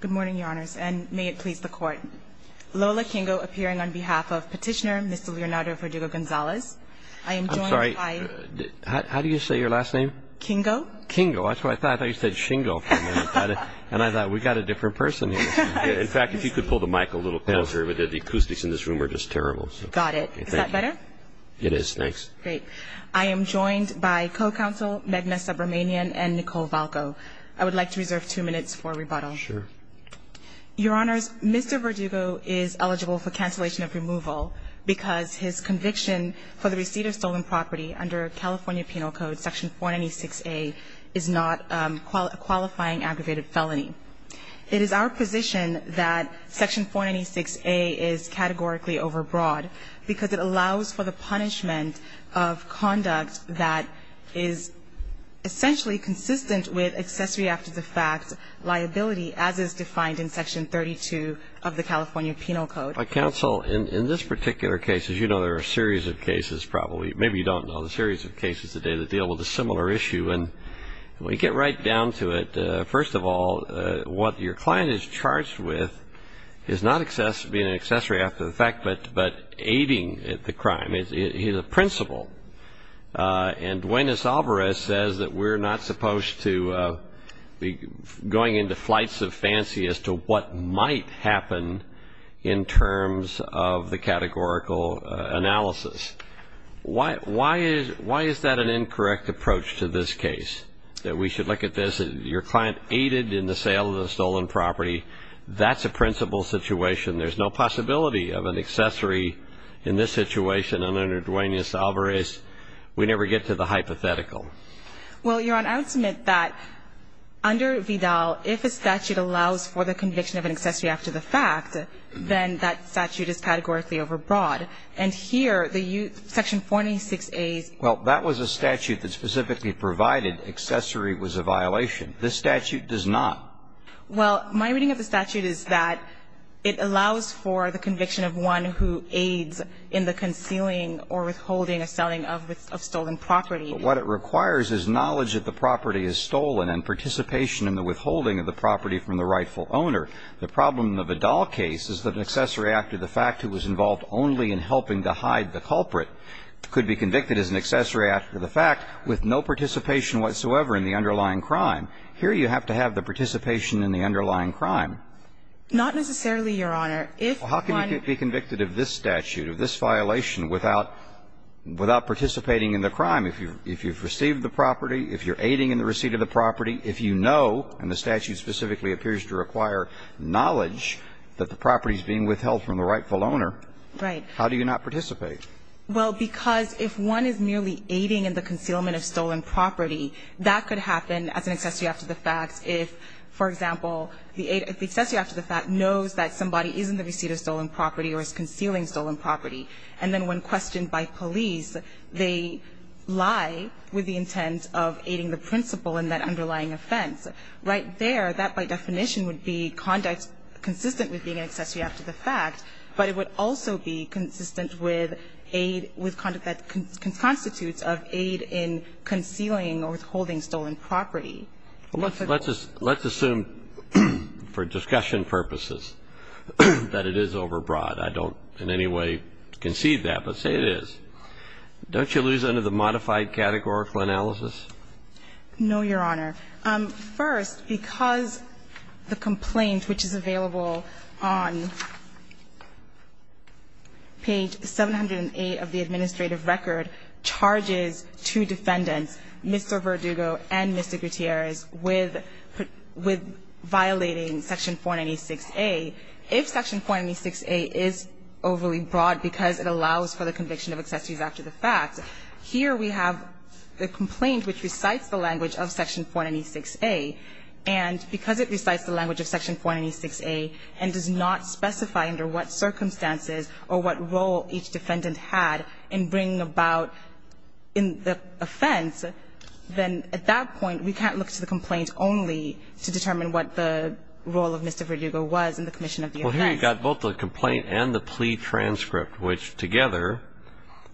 Good morning, your honors, and may it please the court. Lola Kingo appearing on behalf of petitioner Mr. Leonardo Verdugo-Gonzalez. I am joined by... I'm sorry, how do you say your last name? Kingo. Kingo, that's what I thought. I thought you said Shingo for a minute. And I thought, we've got a different person here. In fact, if you could pull the mic a little closer, the acoustics in this room are just terrible. Got it. Is that better? It is, thanks. Great. I am joined by co-counsel Magna Subramanian and Nicole Valco. I would like to reserve two minutes for rebuttal. Sure. Your honors, Mr. Verdugo is eligible for cancellation of removal because his conviction for the receipt of stolen property under California Penal Code Section 496A is not a qualifying aggravated felony. It is our position that Section 496A is categorically overbroad because it allows for the punishment of conduct that is essentially consistent with accessory after the fact liability, as is defined in Section 32 of the California Penal Code. Counsel, in this particular case, as you know, there are a series of cases probably, maybe you don't know, a series of cases today that deal with a similar issue. And when you get right down to it, first of all, what your client is charged with is not being an accessory after the fact, but aiding the crime. He's a principal. And Duenas-Alvarez says that we're not supposed to be going into flights of fancy as to what might happen in terms of the categorical analysis. Why is that an incorrect approach to this case, that we should look at this? Your client aided in the sale of the stolen property. That's a principal situation. There's no possibility of an accessory in this situation. And under Duenas-Alvarez, we never get to the hypothetical. Well, Your Honor, I would submit that under Vidal, if a statute allows for the conviction of an accessory after the fact, then that statute is categorically overbroad. And here, the Section 496A's ---- Well, that was a statute that specifically provided accessory was a violation. This statute does not. Well, my reading of the statute is that it allows for the conviction of one who aids in the concealing or withholding a selling of stolen property. But what it requires is knowledge that the property is stolen and participation in the withholding of the property from the rightful owner. The problem in the Vidal case is that an accessory after the fact who was involved only in helping to hide the culprit could be convicted as an accessory after the fact with no participation whatsoever in the underlying crime. Here, you have to have the participation in the underlying crime. Not necessarily, Your Honor. If one ---- Well, how can you be convicted of this statute, of this violation, without participating in the crime if you've received the property, if you're aiding in the receipt of the property, if you know, and the statute specifically appears to require knowledge that the property is being withheld from the rightful owner? Right. How do you not participate? Well, because if one is merely aiding in the concealment of stolen property, that could happen as an accessory after the fact if, for example, the accessory after the fact knows that somebody is in the receipt of stolen property or is concealing stolen property, and then when questioned by police, they lie with the intent of aiding the principal in that underlying offense. Right there, that by definition would be conduct consistent with being an accessory after the fact, but it would also be consistent with aid, with conduct that constitutes of aid in concealing or withholding stolen property. Let's assume for discussion purposes that it is overbroad. I don't in any way concede that, but say it is. Don't you lose under the modified categorical analysis? No, Your Honor. First, because the complaint which is available on page 708 of the administrative record charges two defendants, Mr. Verdugo and Mr. Gutierrez, with violating section 496a, if section 496a is overly broad because it allows for the conviction of accessories after the fact, here we have the complaint which recites the language of section 496a, and because it recites the language of section 496a and does not in the offense, then at that point we can't look to the complaint only to determine what the role of Mr. Verdugo was in the commission of the offense. Well, here you've got both the complaint and the plea transcript, which together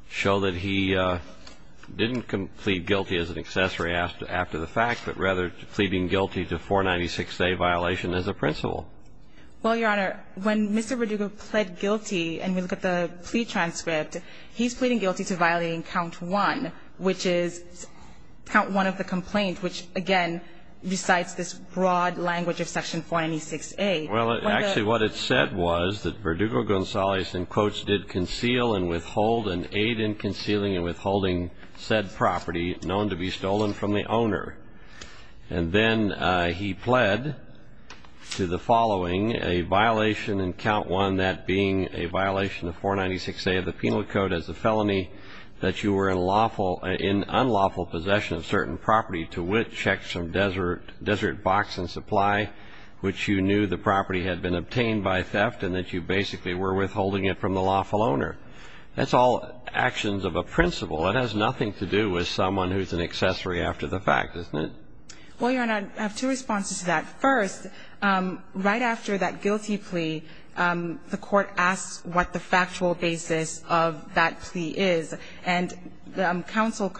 show that he didn't plead guilty as an accessory after the fact, but rather pleading guilty to 496a violation as a principal. Well, Your Honor, when Mr. Verdugo pled guilty and we look at the plea transcript, he's pleading guilty to violating count one, which is count one of the complaint, which, again, recites this broad language of section 496a. Well, actually what it said was that Verdugo Gonzalez, in quotes, did conceal and withhold and aid in concealing and withholding said property known to be stolen from the owner. And then he pled to the following, a violation in count one, that being a violation of 496a of the penal code as a felony, that you were in unlawful possession of certain property to which checks from Desert Box and Supply, which you knew the property had been obtained by theft and that you basically were withholding it from the lawful owner. That's all actions of a principal. It has nothing to do with someone who's an accessory after the fact, isn't it? Well, Your Honor, I have two responses to that. First, right after that guilty plea, the Court asks what the factual basis of that plea is, and the counsel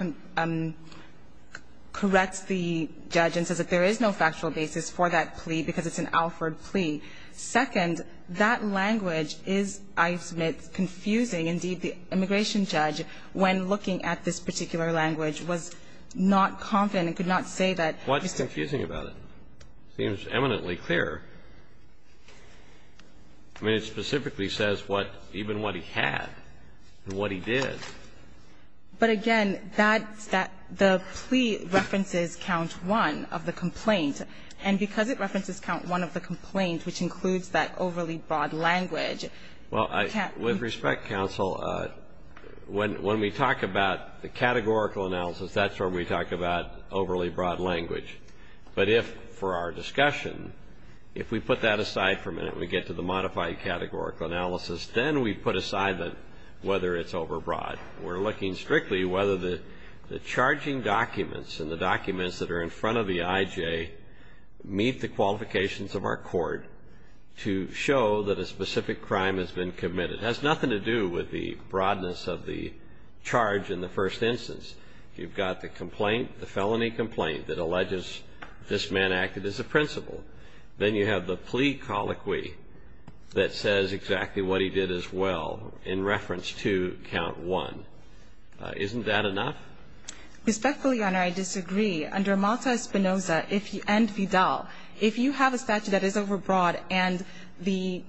corrects the judge and says that there is no factual basis for that plea because it's an Alford plea. Second, that language is, I submit, confusing. Indeed, the immigration judge, when looking at this particular language, was not confident and could not say that he's confusing about it. It seems eminently clear. I mean, it specifically says what, even what he had and what he did. But again, that's that the plea references count one of the complaint, and because it references count one of the complaint, which includes that overly broad language. Well, I, with respect, counsel, when we talk about the categorical analysis, that's where we talk about overly broad language. But if, for our discussion, if we put that aside for a minute and we get to the modified categorical analysis, then we put aside whether it's overbroad. We're looking strictly whether the charging documents and the documents that are in front of the IJ meet the qualifications of our court to show that a specific crime has been committed. It has nothing to do with the broadness of the charge in the first instance. You've got the complaint, the felony complaint that alleges this man acted as a principal. Then you have the plea colloquy that says exactly what he did as well in reference to count one. Isn't that enough? Respectfully, Your Honor, I disagree. Under Malta-Espinoza and Vidal, if you have a statute that is overbroad and the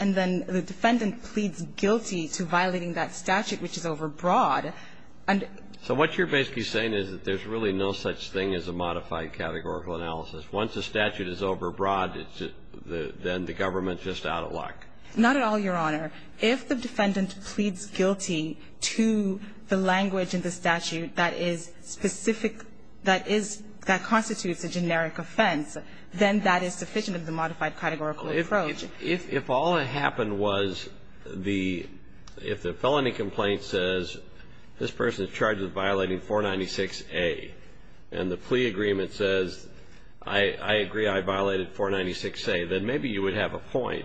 defendant pleads guilty to violating that statute, which is overbroad, and so what you're basically saying is that there's really no such thing as a modified categorical analysis. Once a statute is overbroad, then the government's just out of luck. Not at all, Your Honor. If the defendant pleads guilty to the language in the statute that is specific that is, that constitutes a generic offense, then that is sufficient of the modified categorical approach. So if all that happened was the ‑‑ if the felony complaint says this person is charged with violating 496A and the plea agreement says I agree I violated 496A, then maybe you would have a point.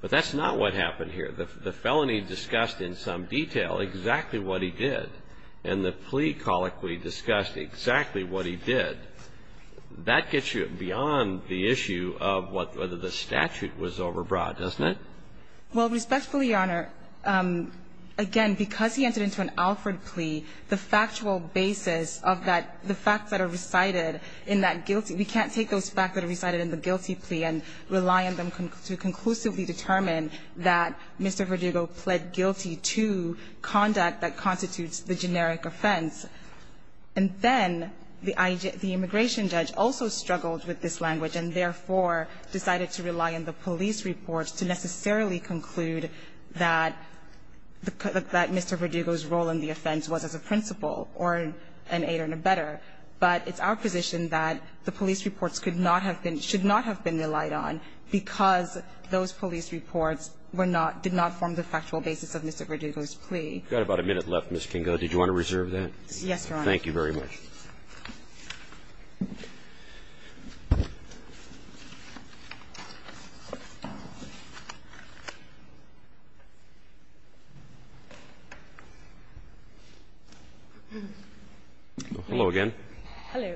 But that's not what happened here. The felony discussed in some detail exactly what he did, and the plea colloquy discussed exactly what he did. That gets you beyond the issue of whether the statute was overbroad, doesn't it? Well, respectfully, Your Honor, again, because he entered into an Alford plea, the factual basis of that, the facts that are recited in that guilty ‑‑ we can't take those facts that are recited in the guilty plea and rely on them to conclusively determine that Mr. Verdugo pled guilty to conduct that constitutes the generic offense. And then the immigration judge also struggled with this language and, therefore, decided to rely on the police reports to necessarily conclude that Mr. Verdugo's role in the offense was as a principal or an aide or an abettor. But it's our position that the police reports could not have been ‑‑ should not have been relied on because those police reports were not ‑‑ did not form the factual basis of Mr. Verdugo's plea. We've got about a minute left, Ms. Kinga. Did you want to reserve that? Yes, Your Honor. Thank you very much. Hello again. Hello.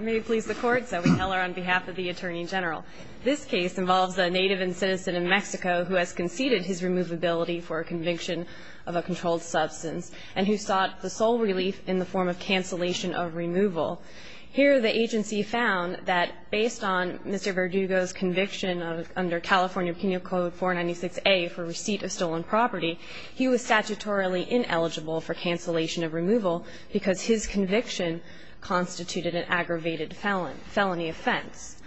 May it please the Court, Zoe Heller on behalf of the Attorney General. This case involves a native and citizen in Mexico who has conceded his removability for a conviction of a controlled substance and who sought the sole relief in the form of cancellation of removal. Here the agency found that based on Mr. Verdugo's conviction under California Penal Code 496A for receipt of stolen property, he was statutorily ineligible for cancellation of removal because his conviction constituted an aggravated felony offense.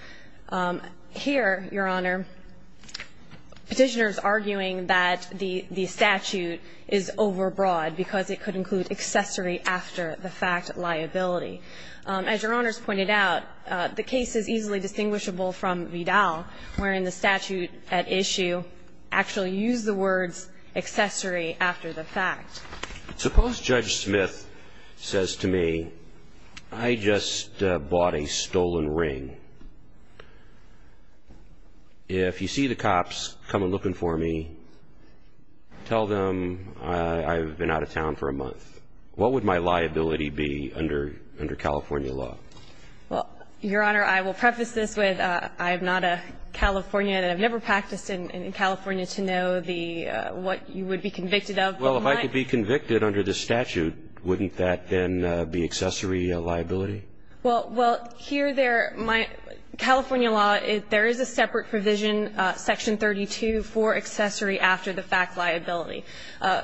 Here, Your Honor, Petitioners arguing that the statute is overbroad because it could include accessory after the fact liability. As Your Honors pointed out, the case is easily distinguishable from Vidal, wherein the statute at issue actually used the words accessory after the fact. Suppose Judge Smith says to me, I just bought a stolen ring. If you see the cops come looking for me, tell them I've been out of town for a month. What would my liability be under California law? Well, Your Honor, I will preface this with I am not a Californian. I've never practiced in California to know what you would be convicted of. Well, if I could be convicted under the statute, wouldn't that then be accessory liability? Well, here California law, there is a separate provision, Section 32, for accessory after the fact liability.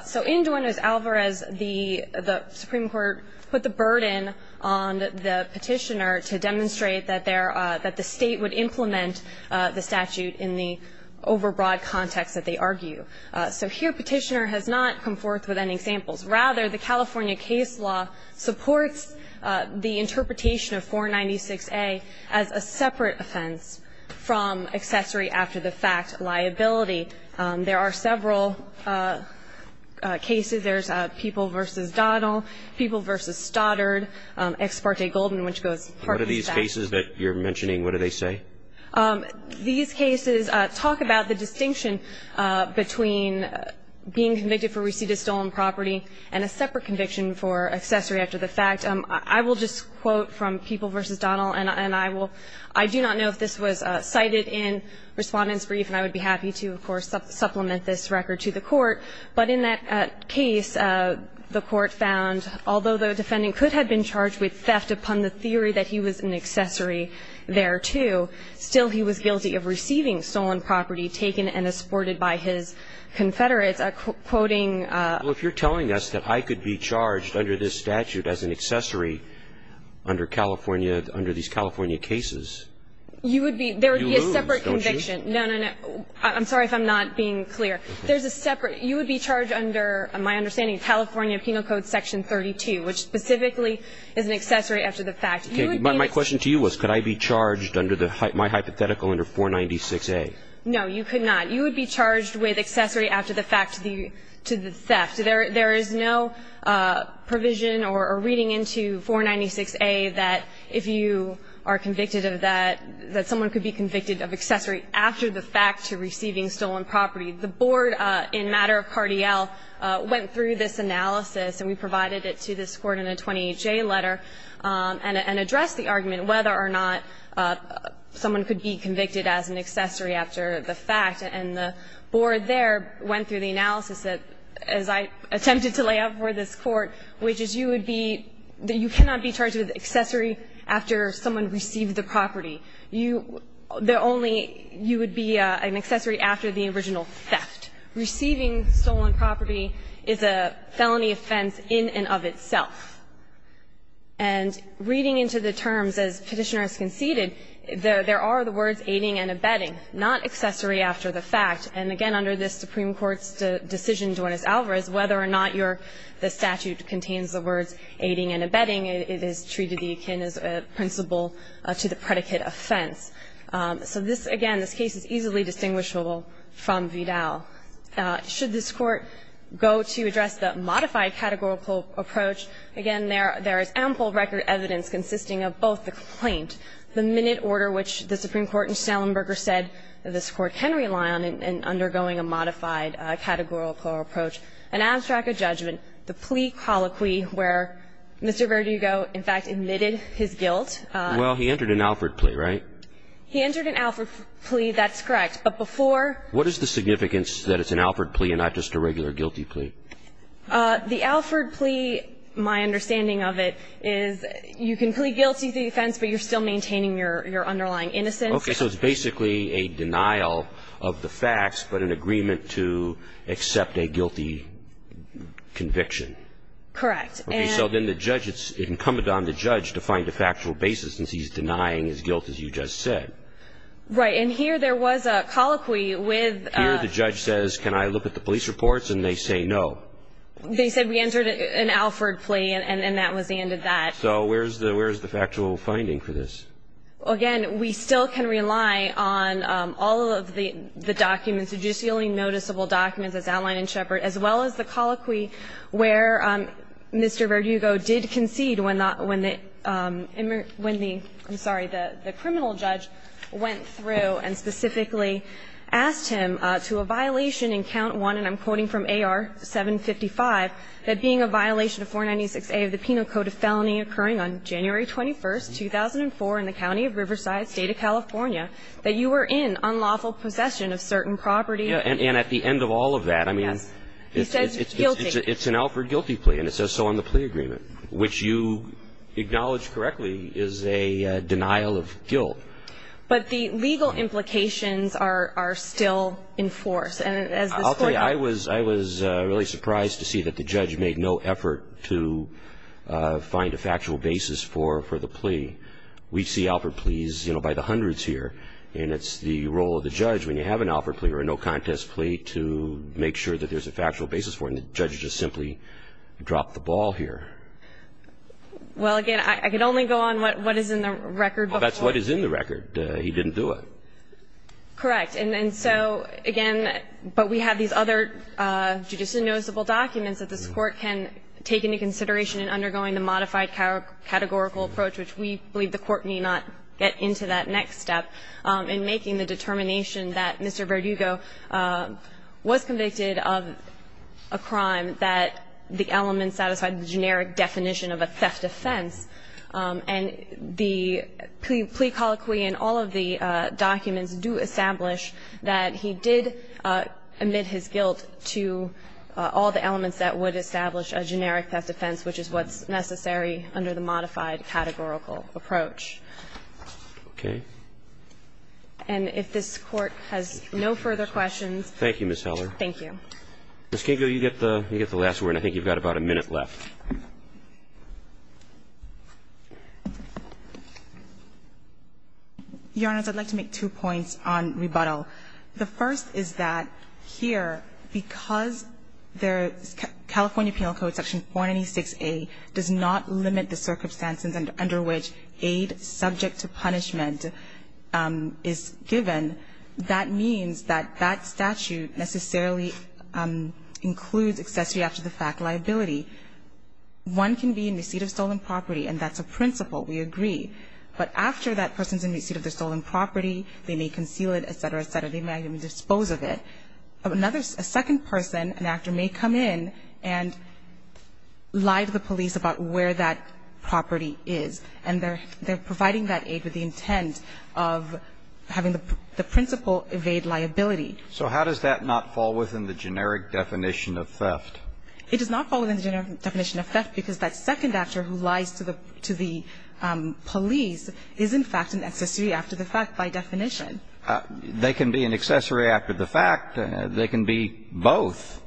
So in Dornos Alvarez, the Supreme Court put the burden on the Petitioner to demonstrate that the State would implement the statute in the overbroad context that they argue. So here Petitioner has not come forth with any examples. Rather, the California case law supports the interpretation of 496A as a separate offense from accessory after the fact liability. There are several cases. There's People v. Donnell, People v. Stoddard, Ex parte Golden, which goes partly back. What are these cases that you're mentioning? What do they say? These cases talk about the distinction between being convicted for receipt of stolen property and a separate conviction for accessory after the fact. I will just quote from People v. Donnell, and I will – I do not know if this was cited in Respondent's Brief, and I would be happy to, of course, supplement this record to the Court. But in that case, the Court found, although the defendant could have been charged with theft upon the theory that he was an accessory thereto, still he was guilty of receiving stolen property taken and exported by his confederates. Quoting – Well, if you're telling us that I could be charged under this statute as an accessory under California – under these California cases, you lose, don't you? You would be – there would be a separate conviction. No, no, no. I'm sorry if I'm not being clear. There's a separate – you would be charged under, my understanding, California Penal Code Section 32, which specifically is an accessory after the fact. You would be – My question to you was, could I be charged under the – my hypothetical under 496A? No, you could not. You would be charged with accessory after the fact to the theft. There is no provision or reading into 496A that if you are convicted of that, that someone could be convicted of accessory after the fact to receiving stolen property. The board in matter of Cartiel went through this analysis, and we provided it to this Court in a 28J letter, and addressed the argument whether or not someone could be convicted as an accessory after the fact. And the board there went through the analysis that – as I attempted to lay out for this Court, which is you would be – you cannot be charged with accessory after someone received the property. You – the only – you would be an accessory after the original theft. Receiving stolen property is a felony offense in and of itself. And reading into the terms, as Petitioner has conceded, there are the words aiding and abetting, not accessory after the fact. And again, under this Supreme Court's decision, Dornis Alvarez, whether or not your – the statute contains the words aiding and abetting, it is treated akin as a principle to the predicate offense. So this, again, this case is easily distinguishable from Vidal. Should this Court go to address the modified categorical approach, again, there is ample record evidence consisting of both the complaint, the minute order which the Supreme Court in Stellenberger said this Court can rely on in undergoing a modified categorical approach, an abstract of judgment, the plea colloquy where Mr. Verdugo, in fact, admitted his guilt. Well, he entered an Alford plea, right? He entered an Alford plea. That's correct. But before – What is the significance that it's an Alford plea and not just a regular guilty plea? The Alford plea, my understanding of it, is you can plead guilty to the offense, but you're still maintaining your underlying innocence. Okay. So it's basically a denial of the facts, but an agreement to accept a guilty conviction. Correct. So then the judge, it's incumbent on the judge to find a factual basis since he's denying his guilt, as you just said. Right. And here there was a colloquy with – Here the judge says, can I look at the police reports? And they say no. They said we entered an Alford plea, and that was the end of that. So where is the factual finding for this? Again, we still can rely on all of the documents, the judicially noticeable documents as outlined in Shepard, as well as the colloquy where Mr. Verdugo did concede when the – when the – I'm sorry, the criminal judge went through and specifically asked him to a violation in count 1, and I'm quoting from AR-755, that being a violation of 496A of the Penal Code of Felony occurring on January 21st, 2004 in the county of Riverside, State of California, that you were in unlawful possession of certain property. And at the end of all of that, I mean – Yes. He says guilty. It's an Alford guilty plea, and it says so on the plea agreement, which you acknowledge correctly is a denial of guilt. But the legal implications are still in force, and as this court – I'll tell you, I was – I was really surprised to see that the judge made no effort to find a factual basis for the plea. We see Alford pleas, you know, by the hundreds here, and it's the role of the plaintiff's plea to make sure that there's a factual basis for it, and the judge just simply dropped the ball here. Well, again, I can only go on what is in the record before. Well, that's what is in the record. He didn't do it. Correct. And so, again, but we have these other judicially noticeable documents that this Court can take into consideration in undergoing the modified categorical approach, which we believe the Court need not get into that next step in making the determination that Mr. Verdugo was convicted of a crime, that the element satisfied the generic definition of a theft offense. And the plea colloquy in all of the documents do establish that he did admit his guilt to all the elements that would establish a generic theft offense, which is what's necessary under the modified categorical approach. Okay. And if this Court has no further questions. Thank you, Ms. Heller. Thank you. Ms. Kingo, you get the last word. I think you've got about a minute left. Your Honors, I'd like to make two points on rebuttal. The first is that here, because the California Penal Code, Section 496A, does not limit the circumstances under which aid subject to punishment is given, that means that that statute necessarily includes accessory after the fact liability. One can be in receipt of stolen property, and that's a principle. We agree. But after that person's in receipt of the stolen property, they may conceal it, et cetera, et cetera. They may even dispose of it. And then another, a second person, an actor, may come in and lie to the police about where that property is. And they're providing that aid with the intent of having the principal evade liability. So how does that not fall within the generic definition of theft? It does not fall within the generic definition of theft because that second actor who lies to the police is, in fact, an accessory after the fact by definition. They can be an accessory after the fact. They can be both.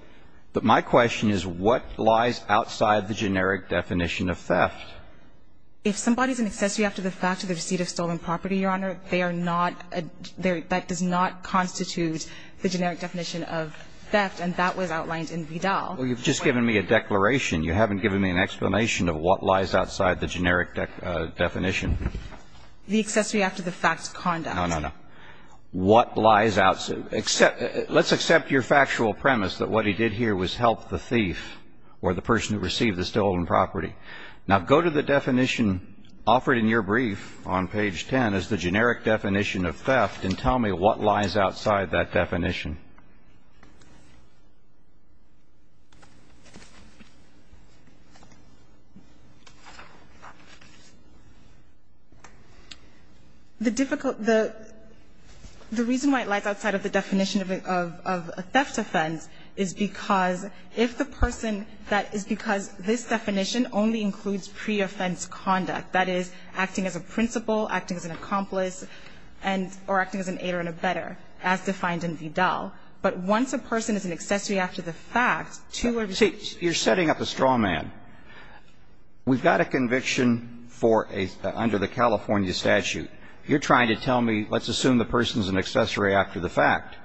But my question is, what lies outside the generic definition of theft? If somebody's an accessory after the fact to the receipt of stolen property, Your Honor, they are not a – that does not constitute the generic definition of theft, and that was outlined in Vidal. Well, you've just given me a declaration. You haven't given me an explanation of what lies outside the generic definition. The accessory after the fact conduct. No, no, no. What lies outside – let's accept your factual premise that what he did here was help the thief or the person who received the stolen property. Now, go to the definition offered in your brief on page 10 as the generic definition of theft and tell me what lies outside that definition. The difficult – the reason why it lies outside of the definition of a theft offense is because if the person – that is because this definition only includes pre-offense conduct, that is, acting as a principal, acting as an accomplice, and – or acting as an aide or an abettor, as defined in Vidal. But once a person is an accessory after the fact, two or – You're setting up a straw man. We've got a conviction for a – under the California statute. You're trying to tell me let's assume the person's an accessory after the fact.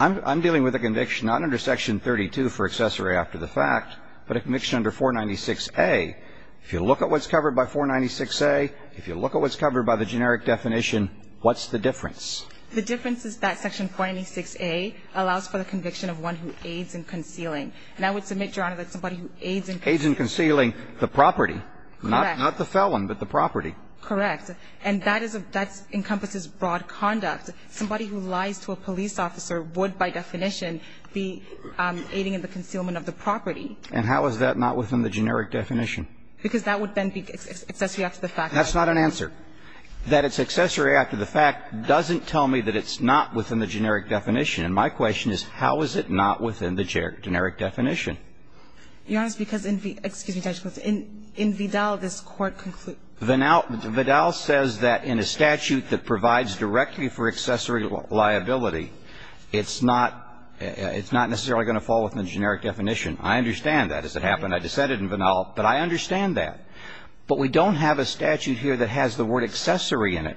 I'm dealing with a conviction not under Section 32 for accessory after the fact, but a conviction under 496a. If you look at what's covered by 496a, if you look at what's covered by the generic definition, what's the difference? The difference is that Section 496a allows for the conviction of one who aids in concealing. And I would submit, Your Honor, that somebody who aids in – Aids in concealing the property. Correct. Not the felon, but the property. Correct. And that is a – that encompasses broad conduct. Somebody who lies to a police officer would, by definition, be aiding in the concealment of the property. And how is that not within the generic definition? Because that would then be accessory after the fact. That's not an answer. Your Honor, that it's accessory after the fact doesn't tell me that it's not within the generic definition. And my question is, how is it not within the generic definition? Your Honor, it's because in Vidal, this Court concludes – Vidal says that in a statute that provides directly for accessory liability, it's not – it's not necessarily going to fall within the generic definition. I understand that as it happened. I dissented in Vidal, but I understand that. But we don't have a statute here that has the word accessory in it.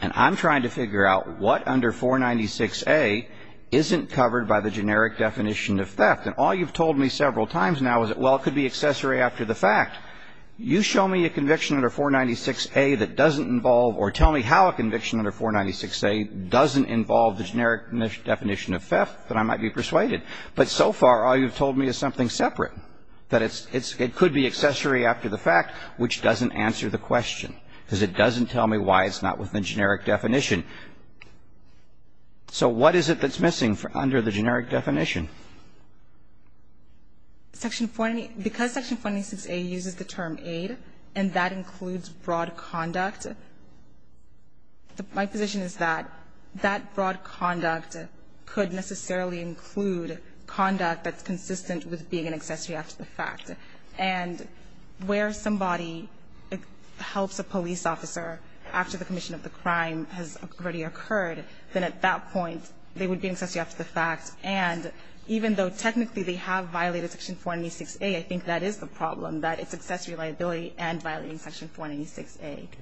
And I'm trying to figure out what under 496A isn't covered by the generic definition of theft. And all you've told me several times now is that, well, it could be accessory after the fact. You show me a conviction under 496A that doesn't involve – or tell me how a conviction under 496A doesn't involve the generic definition of theft that I might be persuaded. But so far, all you've told me is something separate, that it's – it could be accessory after the fact, which doesn't answer the question, because it doesn't tell me why it's not within the generic definition. So what is it that's missing under the generic definition? Because section 496A uses the term aid, and that includes broad conduct, my position is that that broad conduct could necessarily include conduct that's consistent with being an accessory after the fact. And where somebody helps a police officer after the commission of the crime has already occurred, then at that point they would be an accessory after the fact. And even though technically they have violated section 496A, I think that is the problem, that it's accessory liability and violating section 496A. Roberts.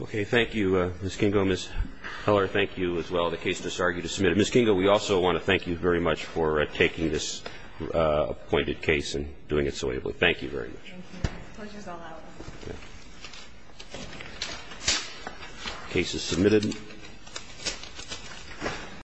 Okay. Thank you, Ms. Kingo. Ms. Heller, thank you as well. The case is disargued. It's submitted. Ms. Kingo, we also want to thank you very much for taking this appointed case and doing it so ably. Thank you very much. Thank you. The case is submitted.